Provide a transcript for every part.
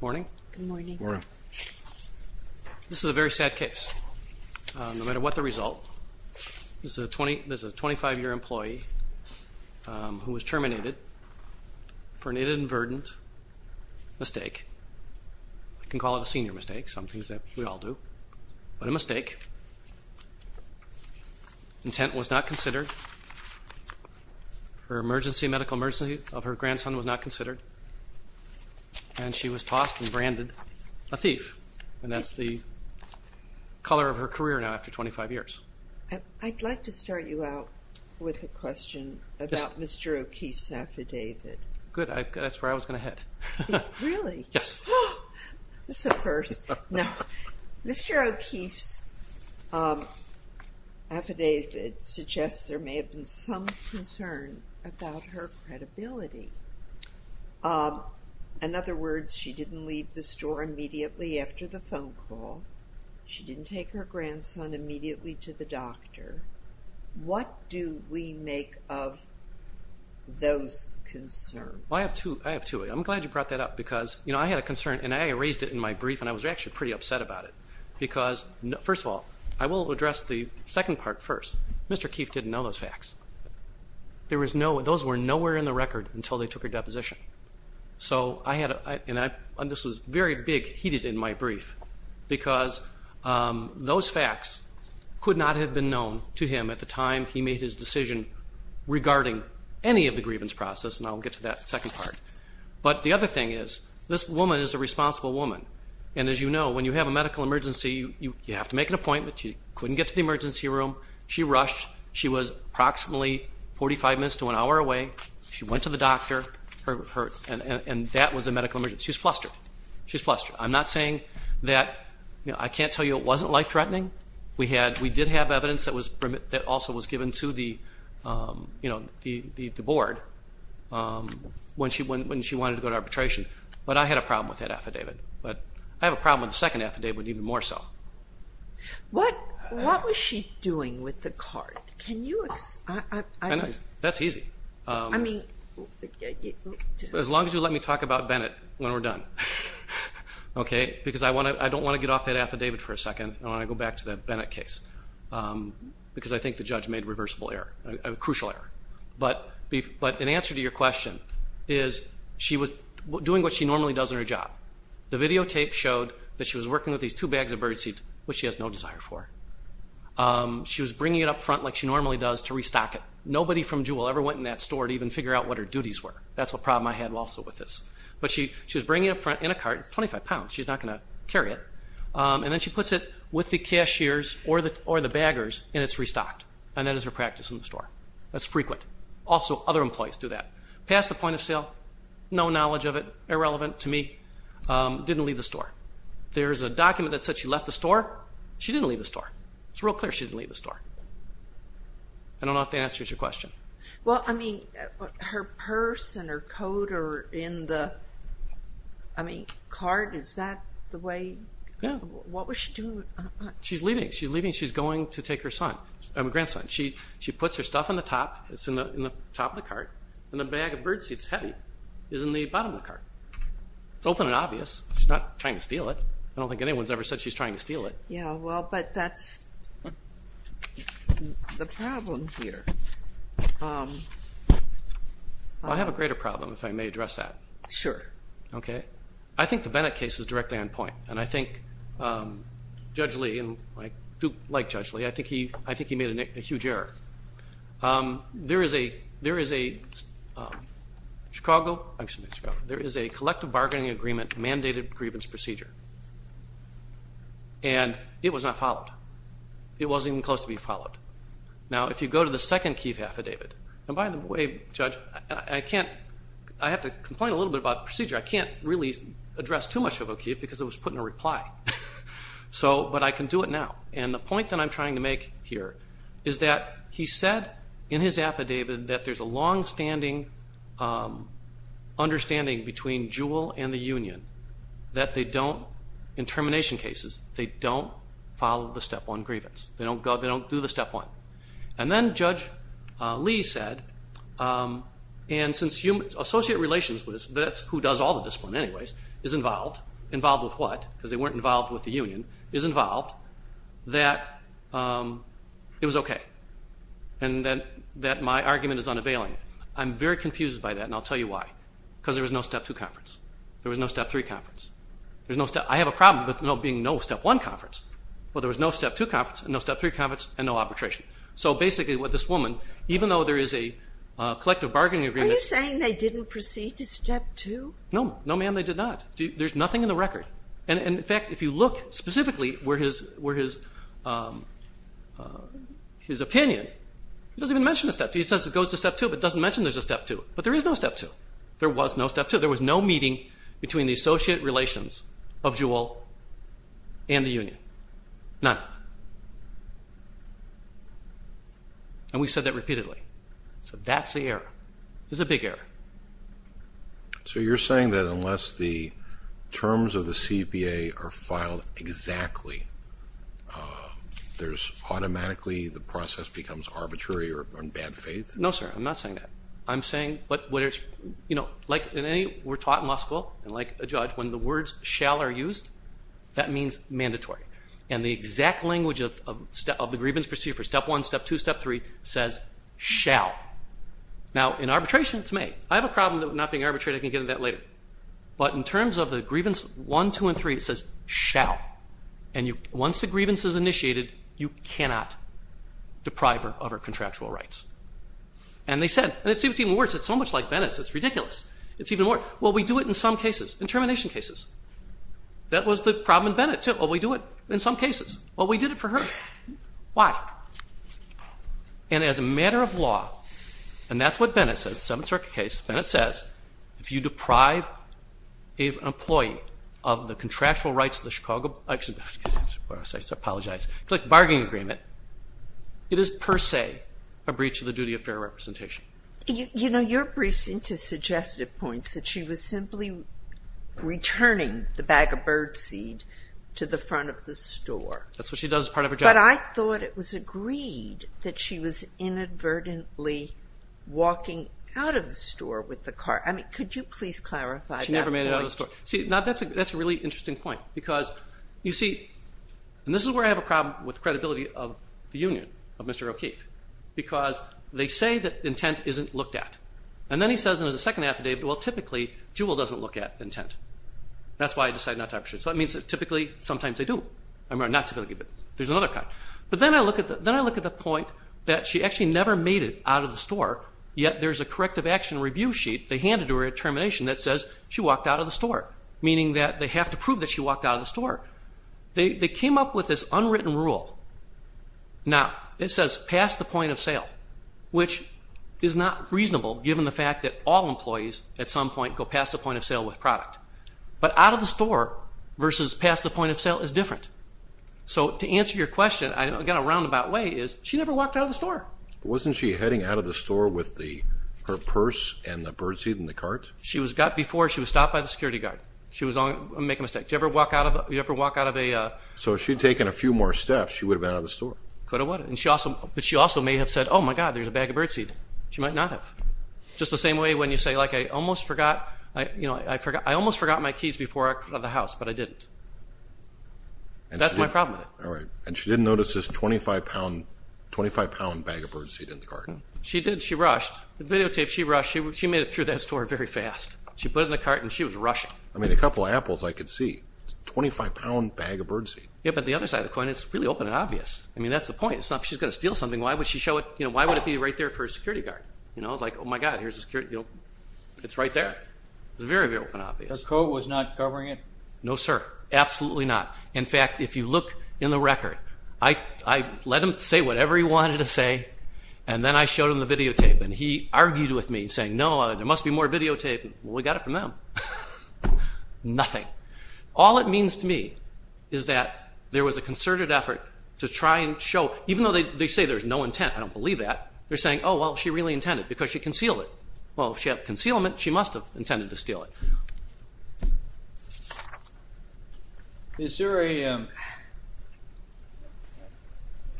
Morning. Good morning. Morning. This is a very sad case. No matter what the result, this is a 25-year employee who was terminated for an inadvertent mistake. You can call it a senior mistake, some things that we all do, but a mistake. Intent was not considered. Her medical emergency of her grandson was not considered, and she was tossed and branded a thief. And that's the color of her career now after 25 years. I'd like to start you out with a question about Mr. O'Keefe's affidavit. Good. That's where I was going to head. Really? Yes. This is a first. Mr. O'Keefe's affidavit suggests there may have been some concern about her credibility. In other words, she didn't leave the store immediately after the phone call. She didn't take her grandson immediately to the doctor. What do we make of those concerns? I have two. I'm glad you brought that up because, you know, I had a concern, and I raised it in my brief, and I was actually pretty upset about it because, first of all, I will address the second part first. Mr. O'Keefe didn't know those facts. Those were nowhere in the record until they took her deposition. And this was very big, heated in my brief, because those facts could not have been known to him at the time he made his decision regarding any of the grievance process, and I'll get to that second part. But the other thing is, this woman is a responsible woman, and as you know, when you have a medical emergency, you have to make an appointment. She couldn't get to the emergency room. She rushed. She was approximately 45 minutes to an hour away. She went to the doctor, and that was a medical emergency. She was flustered. She was flustered. I'm not saying that, you know, I can't tell you it wasn't life-threatening. We did have evidence that also was given to the board when she wanted to go to arbitration, but I had a problem with that affidavit. I have a problem with the second affidavit even more so. What was she doing with the card? Can you explain? That's easy. As long as you let me talk about Bennett when we're done, okay, because I don't want to get off that affidavit for a second. I want to go back to the Bennett case because I think the judge made a reversible error, a crucial error. But in answer to your question is, she was doing what she normally does in her job. The videotape showed that she was working with these two bags of birdseed, which she has no desire for. She was bringing it up front like she normally does to restock it. Nobody from Juul ever went in that store to even figure out what her duties were. That's a problem I had also with this. But she was bringing it up front in a cart. It's 25 pounds. She's not going to carry it. And then she puts it with the cashiers or the baggers and it's restocked. And that is her practice in the store. That's frequent. Also, other employees do that. Past the point of sale, no knowledge of it, irrelevant to me. Didn't leave the store. There's a document that said she left the store. She didn't leave the store. It's real clear she didn't leave the store. I don't know if that answers your question. Well, I mean, her purse and her coat are in the cart. Is that the way? Yeah. What was she doing? She's leaving. She's leaving. She's going to take her grandson. She puts her stuff in the top. It's in the top of the cart. And the bag of birdseed is heavy. It's in the bottom of the cart. It's open and obvious. She's not trying to steal it. I don't think anyone's ever said she's trying to steal it. Yeah, well, but that's the problem here. I have a greater problem, if I may address that. Sure. Okay. I think the Bennett case is directly on point. And I think Judge Lee, and I do like Judge Lee, I think he made a huge error. There is a collective bargaining agreement mandated grievance procedure. And it was not followed. It wasn't even close to being followed. Now, if you go to the second Keefe affidavit, and by the way, Judge, I have to complain a little bit about the procedure. I can't really address too much about Keefe because it was put in a reply. But I can do it now. And the point that I'm trying to make here is that he said in his affidavit that there's a longstanding understanding between Jewell and the union, that they don't, in termination cases, they don't follow the Step 1 grievance. They don't do the Step 1. And then Judge Lee said, and since associate relations, that's who does all the discipline anyways, is involved. Involved with what? Because they weren't involved with the union. Is involved. That it was okay. And that my argument is unavailing. I'm very confused by that, and I'll tell you why. Because there was no Step 2 conference. There was no Step 3 conference. I have a problem with there being no Step 1 conference. Well, there was no Step 2 conference and no Step 3 conference and no arbitration. So basically what this woman, even though there is a collective bargaining agreement Are you saying they didn't proceed to Step 2? No, ma'am, they did not. There's nothing in the record. And, in fact, if you look specifically where his opinion, he doesn't even mention a Step 2. He says it goes to Step 2 but doesn't mention there's a Step 2. But there is no Step 2. There was no Step 2. He said there was no meeting between the associate relations of Jewell and the union. None. And we've said that repeatedly. So that's the error. It's a big error. So you're saying that unless the terms of the CPA are filed exactly, there's automatically the process becomes arbitrary or in bad faith? No, sir. I'm not saying that. I'm saying like we're taught in law school and like a judge, when the words shall are used, that means mandatory. And the exact language of the grievance procedure for Step 1, Step 2, Step 3 says shall. Now, in arbitration, it's may. I have a problem with not being arbitrated. I can get into that later. But in terms of the grievance 1, 2, and 3, it says shall. And once the grievance is initiated, you cannot deprive her of her contractual rights. And they said, and it's even worse. It's so much like Bennett's. It's ridiculous. It's even worse. Well, we do it in some cases, in termination cases. That was the problem in Bennett's, too. Well, we do it in some cases. Well, we did it for her. Why? And as a matter of law, and that's what Bennett says, the Seventh Circuit case, Bennett says if you deprive an employee of the contractual rights of the Chicago Bargaining Agreement, it is per se a breach of the duty of fair representation. You know, your briefs seem to suggest at points that she was simply returning the bag of birdseed to the front of the store. That's what she does as part of her job. But I thought it was agreed that she was inadvertently walking out of the store with the car. I mean, could you please clarify that point? She never made it out of the store. See, now that's a really interesting point because, you see, and this is where I have a problem with the credibility of the union, of Mr. O'Keefe, because they say that intent isn't looked at. And then he says in his second affidavit, well, typically, Jewel doesn't look at intent. That's why I decided not to arbitrate. So that means that typically, sometimes they do. I'm not supposed to give it. There's another kind. But then I look at the point that she actually never made it out of the store, yet there's a corrective action review sheet they Meaning that they have to prove that she walked out of the store. They came up with this unwritten rule. Now, it says pass the point of sale, which is not reasonable given the fact that all employees at some point go past the point of sale with product. But out of the store versus past the point of sale is different. So to answer your question, I've got a roundabout way, is she never walked out of the store. Wasn't she heading out of the store with her purse and the birdseed in the cart? She was stopped by the security guard. I'm making a mistake. Did you ever walk out of a So if she had taken a few more steps, she would have been out of the store. Could have, would have. But she also may have said, oh, my God, there's a bag of birdseed. She might not have. Just the same way when you say, like, I almost forgot my keys before I left the house, but I didn't. That's my problem. All right. And she didn't notice this 25-pound bag of birdseed in the cart. She did. She rushed. The videotape, she rushed. She made it through that store very fast. She put it in the cart, and she was rushing. I mean, a couple apples I could see. It's a 25-pound bag of birdseed. Yeah, but the other side of the coin, it's really open and obvious. I mean, that's the point. It's not she's going to steal something. Why would she show it? Why would it be right there for a security guard? It's like, oh, my God, here's a security guard. It's right there. It's very, very open and obvious. Her coat was not covering it? No, sir. Absolutely not. In fact, if you look in the record, I let him say whatever he wanted to say, and then I showed him the videotape. And he argued with me, saying, no, there must be more videotape. Well, we got it from them. Nothing. All it means to me is that there was a concerted effort to try and show, even though they say there's no intent. I don't believe that. They're saying, oh, well, she really intended, because she concealed it. Well, if she had the concealment, she must have intended to steal it. Is there a –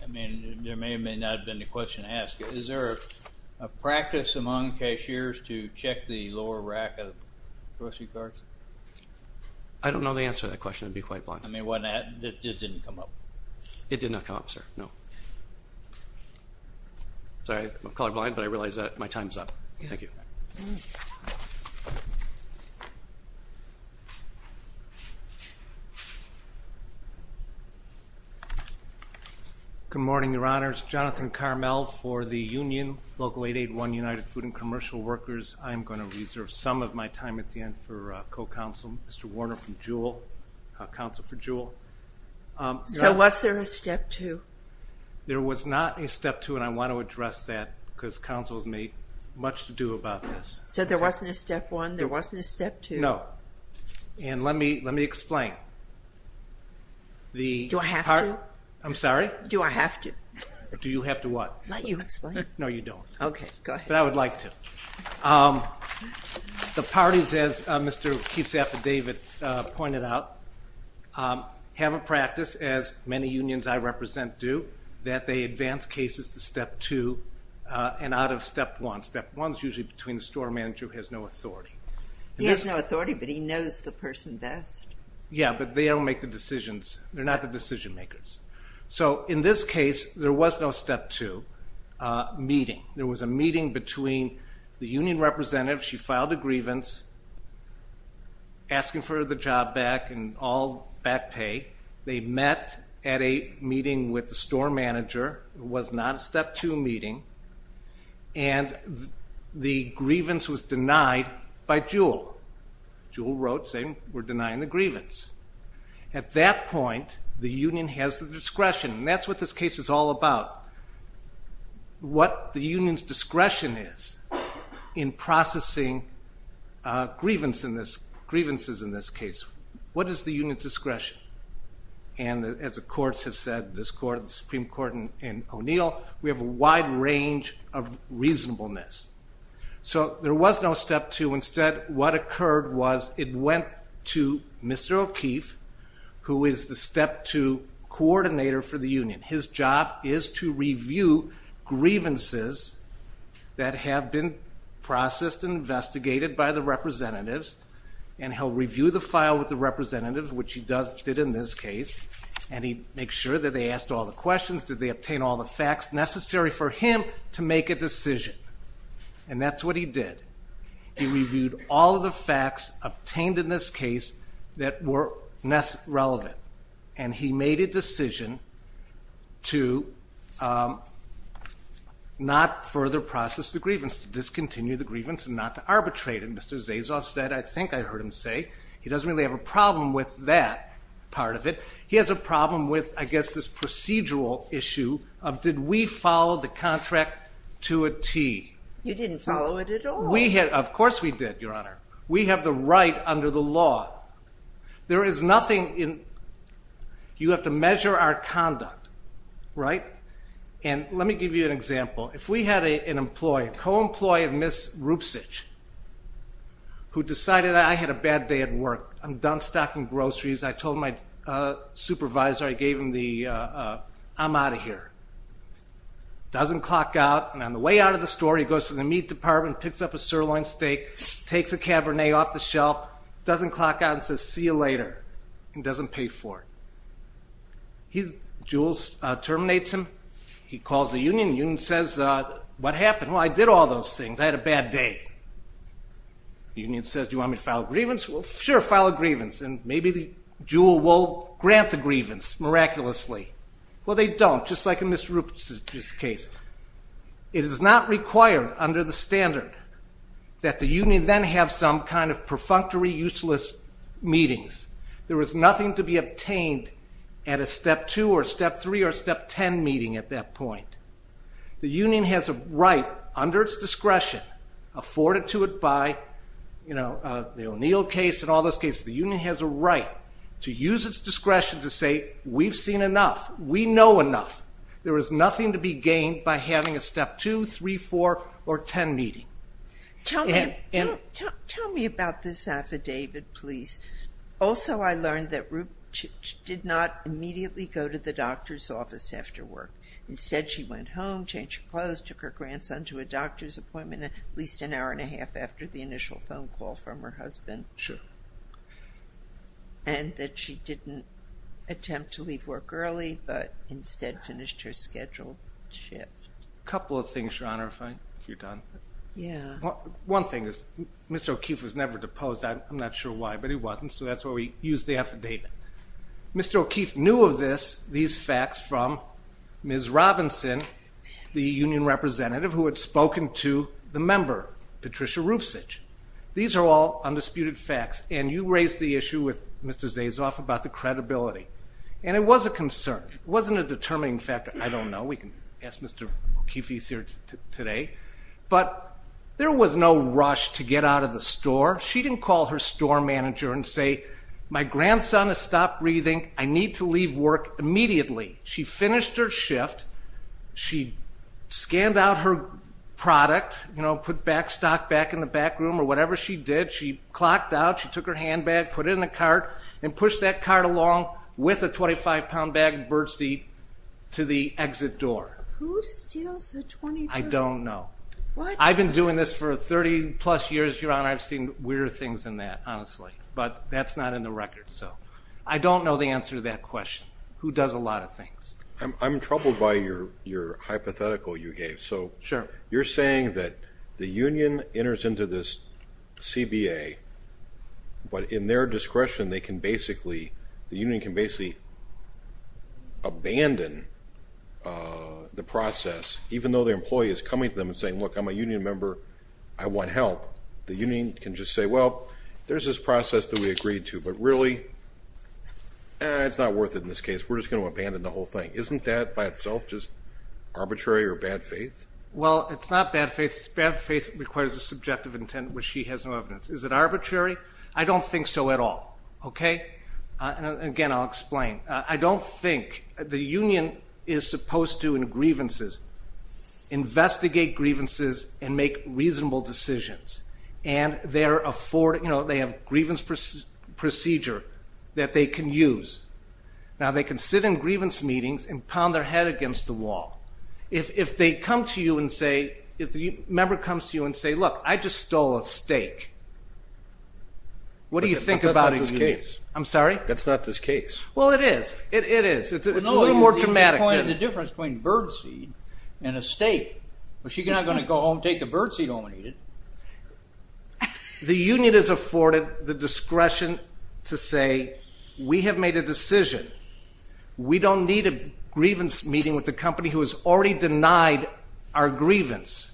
I mean, there may or may not have been a question to ask. Is there a practice among cashiers to check the lower rack of grocery carts? I don't know the answer to that question. I'd be quite blind. I mean, it didn't come up. It did not come up, sir, no. Sorry, I'm colorblind, but I realize that my time's up. Thank you. Okay. Good morning, Your Honors. Jonathan Carmel for the union, Local 881 United Food and Commercial Workers. I am going to reserve some of my time at the end for co-counsel, Mr. Warner from Juul, counsel for Juul. So was there a step two? There was not a step two, and I want to address that because counsel has made much to do about this. So there wasn't a step one? There wasn't a step two? No. And let me explain. Do I have to? I'm sorry? Do I have to? Do you have to what? Let you explain. No, you don't. Okay, go ahead. But I would like to. The parties, as Mr. Keefe's affidavit pointed out, have a practice, as many unions I represent do, that they advance cases to step two and out of step one. Step one is usually between the store manager who has no authority. He has no authority, but he knows the person best. Yeah, but they don't make the decisions. They're not the decision makers. So in this case, there was no step two meeting. There was a meeting between the union representative. She filed a grievance asking for the job back and all back pay. They met at a meeting with the store manager. It was not a step two meeting. And the grievance was denied by Jewell. Jewell wrote saying we're denying the grievance. At that point, the union has the discretion, and that's what this case is all about. What the union's discretion is in processing grievances in this case. What is the union's discretion? And as the courts have said, this Supreme Court and O'Neill, we have a wide range of reasonableness. So there was no step two. Instead, what occurred was it went to Mr. O'Keefe, who is the step two coordinator for the union. His job is to review grievances that have been processed and investigated by the representatives. And he'll review the file with the representative, which he did in this case. And he makes sure that they asked all the questions, did they obtain all the facts necessary for him to make a decision. And that's what he did. He reviewed all of the facts obtained in this case that were relevant. And he made a decision to not further process the grievance, to discontinue the grievance and not to arbitrate it. And Mr. Zasoff said, I think I heard him say, he doesn't really have a problem with that part of it. He has a problem with, I guess, this procedural issue of did we follow the contract to a T. You didn't follow it at all. Of course we did, Your Honor. We have the right under the law. There is nothing in, you have to measure our conduct, right? And let me give you an example. If we had an employee, a co-employee of Ms. Rupsich, who decided, I had a bad day at work. I'm done stocking groceries. I told my supervisor, I gave him the, I'm out of here. Doesn't clock out. And on the way out of the store, he goes to the meat department, picks up a sirloin steak, takes a cabernet off the shelf. Doesn't clock out and says, see you later. And doesn't pay for it. Jules terminates him. He calls the union. The union says, what happened? Well, I did all those things. I had a bad day. The union says, do you want me to file a grievance? Well, sure, file a grievance. And maybe the juul will grant the grievance miraculously. Well, they don't, just like in Ms. Rupsich's case. It is not required under the standard that the union then have some kind of perfunctory, useless meetings. There is nothing to be obtained at a step two or step three or step ten meeting at that point. The union has a right, under its discretion, afforded to it by, you know, the O'Neill case and all those cases. The union has a right to use its discretion to say, we've seen enough. We know enough. There is nothing to be gained by having a step two, three, four, or ten meeting. Tell me about this affidavit, please. Also, I learned that Rupsich did not immediately go to the doctor's office after work. Instead, she went home, changed her clothes, took her grandson to a doctor's appointment at least an hour and a half after the initial phone call from her husband. Sure. And that she didn't attempt to leave work early, but instead finished her scheduled shift. A couple of things, Your Honor, if you're done. Yeah. One thing is, Mr. O'Keefe was never deposed. I'm not sure why, but he wasn't, so that's why we used the affidavit. Mr. O'Keefe knew of this, these facts, from Ms. Robinson, the union representative, who had spoken to the member, Patricia Rupsich. These are all undisputed facts, and you raised the issue with Mr. Zaisoff about the credibility. And it was a concern. It wasn't a determining factor. I don't know. We can ask Mr. O'Keefe, he's here today. But there was no rush to get out of the store. She didn't call her store manager and say, my grandson has stopped breathing. I need to leave work immediately. She finished her shift. She scanned out her product, you know, put back stock back in the back room, or whatever she did. She clocked out, she took her handbag, put it in the cart, and pushed that cart along with a 25-pound bag of birdseed to the exit door. Who steals the 25? I don't know. I've been doing this for 30-plus years, Your Honor. I've seen weirder things than that, honestly. But that's not in the record. Who does a lot of things? I'm troubled by your hypothetical you gave. Sure. So you're saying that the union enters into this CBA, but in their discretion they can basically, the union can basically abandon the process, even though the employee is coming to them and saying, look, I'm a union member, I want help. The union can just say, well, there's this process that we agreed to, but really, it's not worth it in this case. We're just going to abandon the whole thing. Isn't that by itself just arbitrary or bad faith? Well, it's not bad faith. Bad faith requires a subjective intent, which she has no evidence. Is it arbitrary? I don't think so at all. Okay? Again, I'll explain. I don't think the union is supposed to, in grievances, investigate grievances and make reasonable decisions, and they have a grievance procedure that they can use. Now, they can sit in grievance meetings and pound their head against the wall. If they come to you and say, if the member comes to you and say, look, I just stole a steak, what do you think about a union? That's not this case. I'm sorry? That's not this case. Well, it is. It is. It's a little more dramatic. The difference between birdseed and a steak. She's not going to go home and take the birdseed home and eat it. The union is afforded the discretion to say, we have made a decision. We don't need a grievance meeting with a company who has already denied our grievance.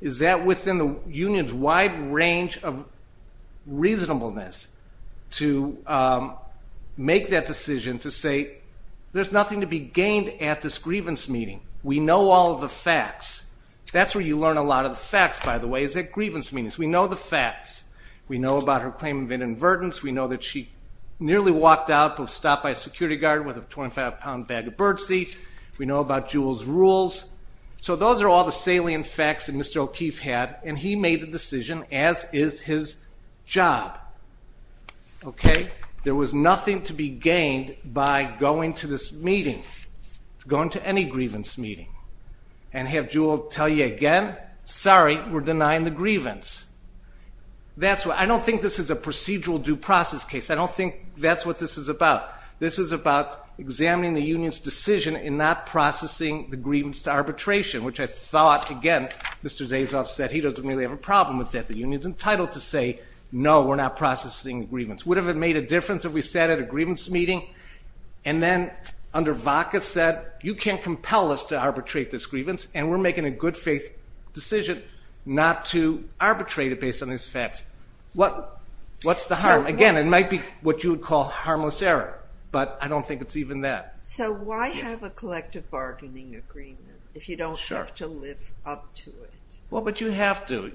Is that within the union's wide range of reasonableness to make that decision to say, there's nothing to be gained at this grievance meeting. We know all the facts. That's where you learn a lot of the facts, by the way, is at grievance meetings. We know the facts. We know about her claim of inadvertence. We know that she nearly walked out of a stop by a security guard with a 25-pound bag of birdseed. We know about Juul's rules. So those are all the salient facts that Mr. O'Keefe had, and he made the decision, as is his job. There was nothing to be gained by going to this meeting, going to any grievance meeting, and have Juul tell you again, sorry, we're denying the grievance. I don't think this is a procedural due process case. I don't think that's what this is about. This is about examining the union's decision in not processing the grievance to arbitration, which I thought, again, Mr. Zaisoff said he doesn't really have a problem with that. The union is entitled to say, no, we're not processing the grievance. Would it have made a difference if we sat at a grievance meeting, and then under VOCA said, you can't compel us to arbitrate this grievance, and we're making a good faith decision not to arbitrate it based on these facts. What's the harm? Again, it might be what you would call harmless error, but I don't think it's even that. So why have a collective bargaining agreement if you don't have to live up to it? Well, but you have to.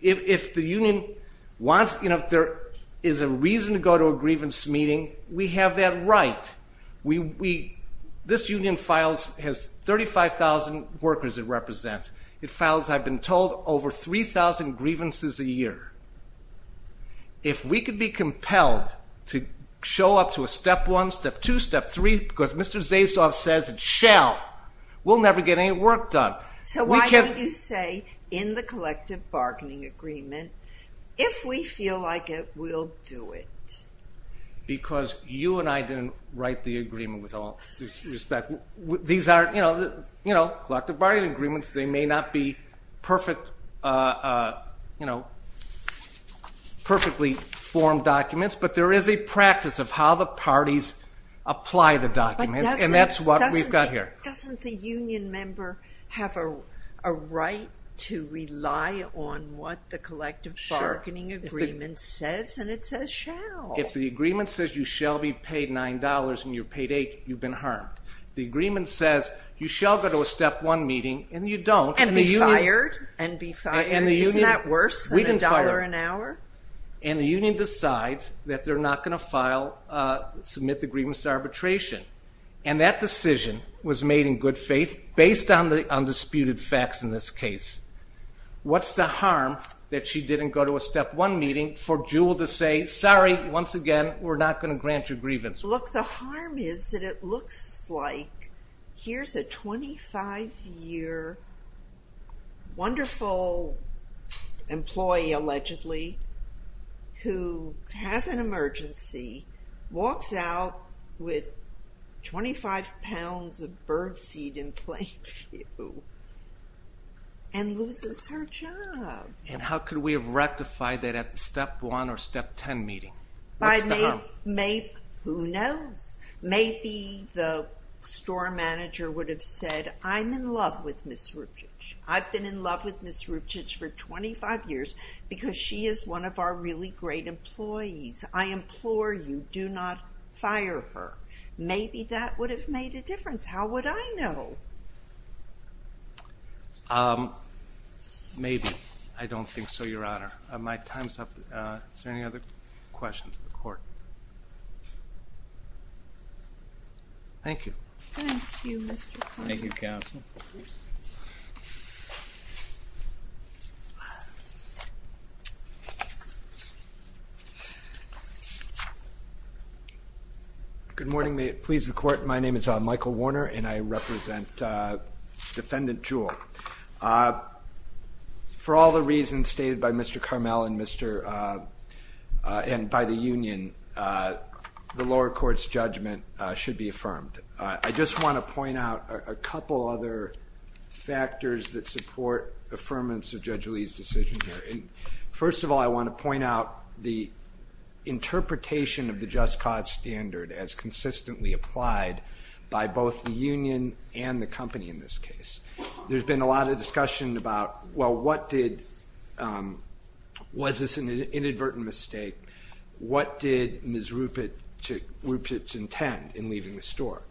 If the union wants, if there is a reason to go to a grievance meeting, we have that right. This union has 35,000 workers it represents. It files, I've been told, over 3,000 grievances a year. If we could be compelled to show up to a step one, step two, step three, because Mr. Zaisoff says it shall, we'll never get any work done. So why didn't you say in the collective bargaining agreement, if we feel like it, we'll do it? Because you and I didn't write the agreement with all due respect. These are collective bargaining agreements. They may not be perfectly formed documents, but there is a practice of how the parties apply the document, and that's what we've got here. Doesn't the union member have a right to rely on what the collective bargaining agreement says? And it says shall. If the agreement says you shall be paid $9 and you're paid $8, you've been harmed. The agreement says you shall go to a step one meeting and you don't. And be fired. And be fired. Isn't that worse than $1 an hour? And the union decides that they're not going to file, submit the grievance arbitration. And that decision was made in good faith based on the undisputed facts in this case. What's the harm that she didn't go to a step one meeting for Jewell to say, sorry, once again, we're not going to grant you grievance? Look, the harm is that it looks like here's a 25-year wonderful employee, allegedly, who has an emergency, walks out with 25 pounds of birdseed in plain view, and loses her job. And how could we have rectified that at the step one or step ten meeting? Who knows? Maybe the store manager would have said, I'm in love with Ms. Ruptich. I've been in love with Ms. Ruptich for 25 years because she is one of our really great employees. I implore you, do not fire her. Maybe that would have made a difference. How would I know? Maybe. I don't think so, Your Honor. My time's up. Is there any other questions of the court? Thank you. Thank you, Mr. Connolly. Thank you, counsel. Good morning. May it please the court, my name is Michael Warner, and I represent Defendant Jewell. For all the reasons stated by Mr. Carmel and by the union, the lower court's judgment should be affirmed. I just want to point out a couple other factors that support affirmance of Judge Lee's decision here. First of all, I want to point out the interpretation of the just cause standard as consistently applied by both the union and the company in this case. There's been a lot of discussion about, well, what did, was this an inadvertent mistake? What did Ms. Rupert intend in leaving the store?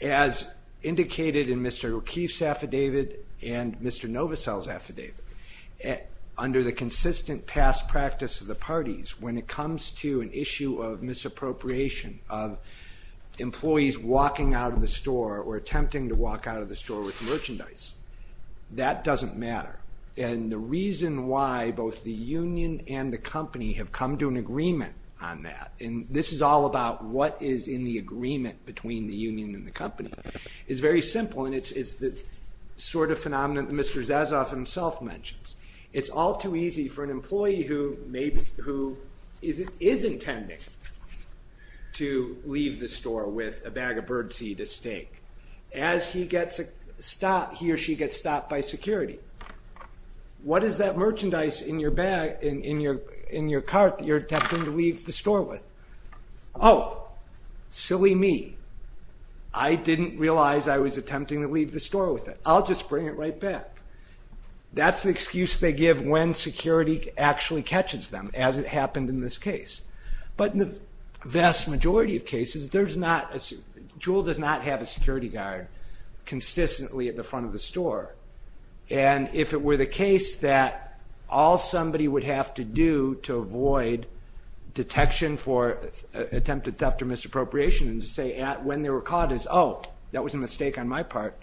As indicated in Mr. O'Keefe's affidavit and Mr. Novosel's affidavit, under the consistent past practice of the parties, when it comes to an issue of misappropriation of employees walking out of the store or attempting to walk out of the store with merchandise, that doesn't matter. And the reason why both the union and the company have come to an agreement on that, and this is all about what is in the agreement between the union and the company, is very simple, and it's the sort of phenomenon that Mr. Zasoff himself mentions. It's all too easy for an employee who is intending to leave the store with a bag of birdseed at stake. As he or she gets stopped by security, what is that merchandise in your cart that you're attempting to leave the store with? Oh, silly me. I didn't realize I was attempting to leave the store with it. I'll just bring it right back. That's the excuse they give when security actually catches them, as it happened in this case. But in the vast majority of cases, Jewel does not have a security guard consistently at the front of the store. And if it were the case that all somebody would have to do to avoid detection for attempted theft or misappropriation and to say when they were caught is, oh, that was a mistake on my part,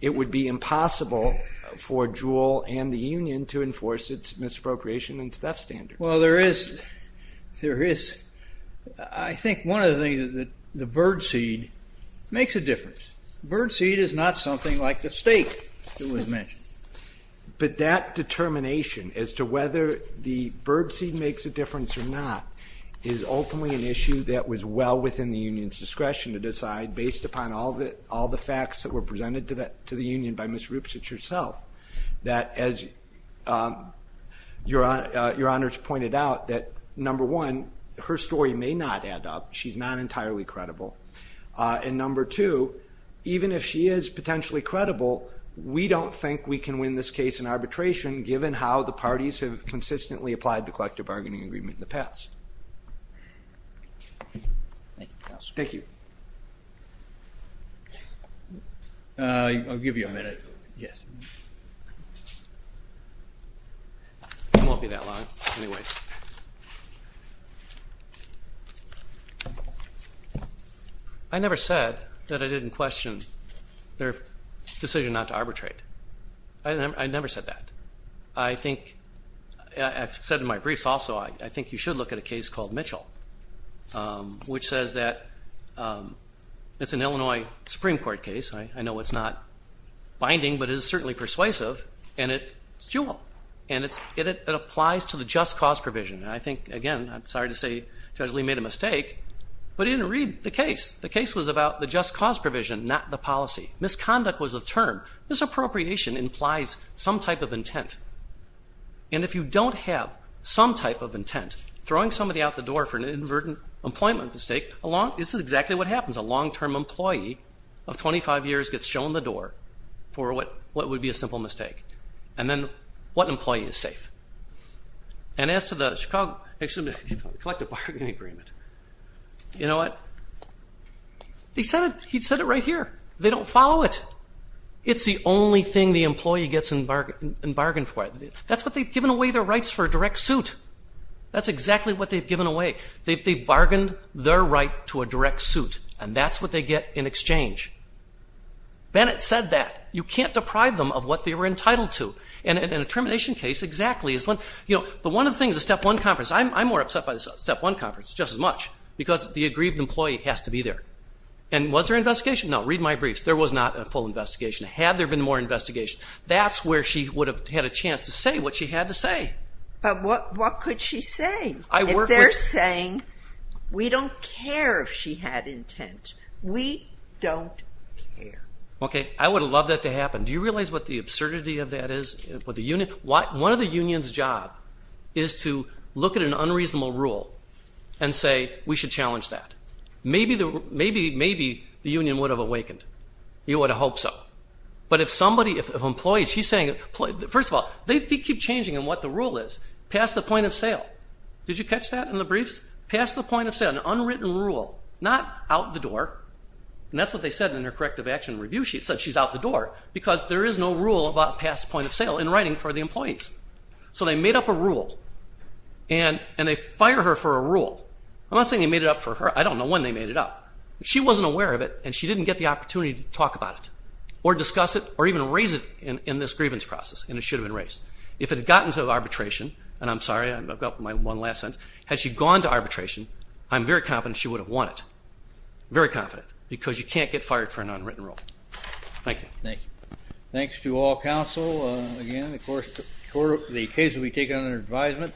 it would be impossible for Jewel and the union to enforce its misappropriation and theft standards. Well, there is. I think one of the things is that the birdseed makes a difference. Birdseed is not something like the steak that was mentioned. But that determination as to whether the birdseed makes a difference or not is ultimately an issue that was well within the union's discretion to decide based upon all the facts that were presented to the union by Ms. Rupcich herself, that as Your Honors pointed out, that number one, her story may not add up. She's not entirely credible. And number two, even if she is potentially credible, we don't think we can win this case in arbitration, given how the parties have consistently applied the collective bargaining agreement in the past. Thank you, Counselor. Thank you. I'll give you a minute. Yes. It won't be that long, anyway. I never said that I didn't question their decision not to arbitrate. I never said that. I think I've said in my briefs also I think you should look at a case called Mitchell, which says that it's an Illinois Supreme Court case. I know it's not binding, but it is certainly persuasive, and it's dual. And it applies to the just cause provision. And I think, again, I'm sorry to say Judge Lee made a mistake, but he didn't read the case. The case was about the just cause provision, not the policy. Misconduct was a term. Misappropriation implies some type of intent. And if you don't have some type of intent, throwing somebody out the door for an inadvertent employment mistake, this is exactly what happens. A long-term employee of 25 years gets shown the door for what would be a simple mistake, and then what employee is safe. And as to the collective bargaining agreement, you know what? He said it right here. They don't follow it. It's the only thing the employee gets in bargain for. That's what they've given away their rights for, a direct suit. That's exactly what they've given away. They've bargained their right to a direct suit, and that's what they get in exchange. Bennett said that. You can't deprive them of what they were entitled to. And in a termination case, exactly. You know, but one of the things, the Step 1 conference, I'm more upset by the Step 1 conference just as much, because the aggrieved employee has to be there. And was there an investigation? No. There was not a full investigation. Had there been more investigation, that's where she would have had a chance to say what she had to say. But what could she say? If they're saying, we don't care if she had intent, we don't care. Okay. I would have loved that to happen. Do you realize what the absurdity of that is? One of the union's job is to look at an unreasonable rule and say, we should challenge that. Maybe the union would have awakened. You would have hoped so. But if somebody, if an employee, she's saying, first of all, they keep changing on what the rule is. Pass the point of sale. Did you catch that in the briefs? Pass the point of sale. An unwritten rule. Not out the door. And that's what they said in her corrective action review. She said she's out the door because there is no rule about pass point of sale in writing for the employees. So they made up a rule. And they fire her for a rule. I'm not saying they made it up for her. I don't know when they made it up. She wasn't aware of it, and she didn't get the opportunity to talk about it or discuss it or even raise it in this grievance process. And it should have been raised. If it had gotten to arbitration, and I'm sorry, I've got my one last sentence. Had she gone to arbitration, I'm very confident she would have won it. Very confident. Because you can't get fired for an unwritten rule. Thank you. Thank you. Thanks to all counsel. Again, of course, the case will be taken under advisement.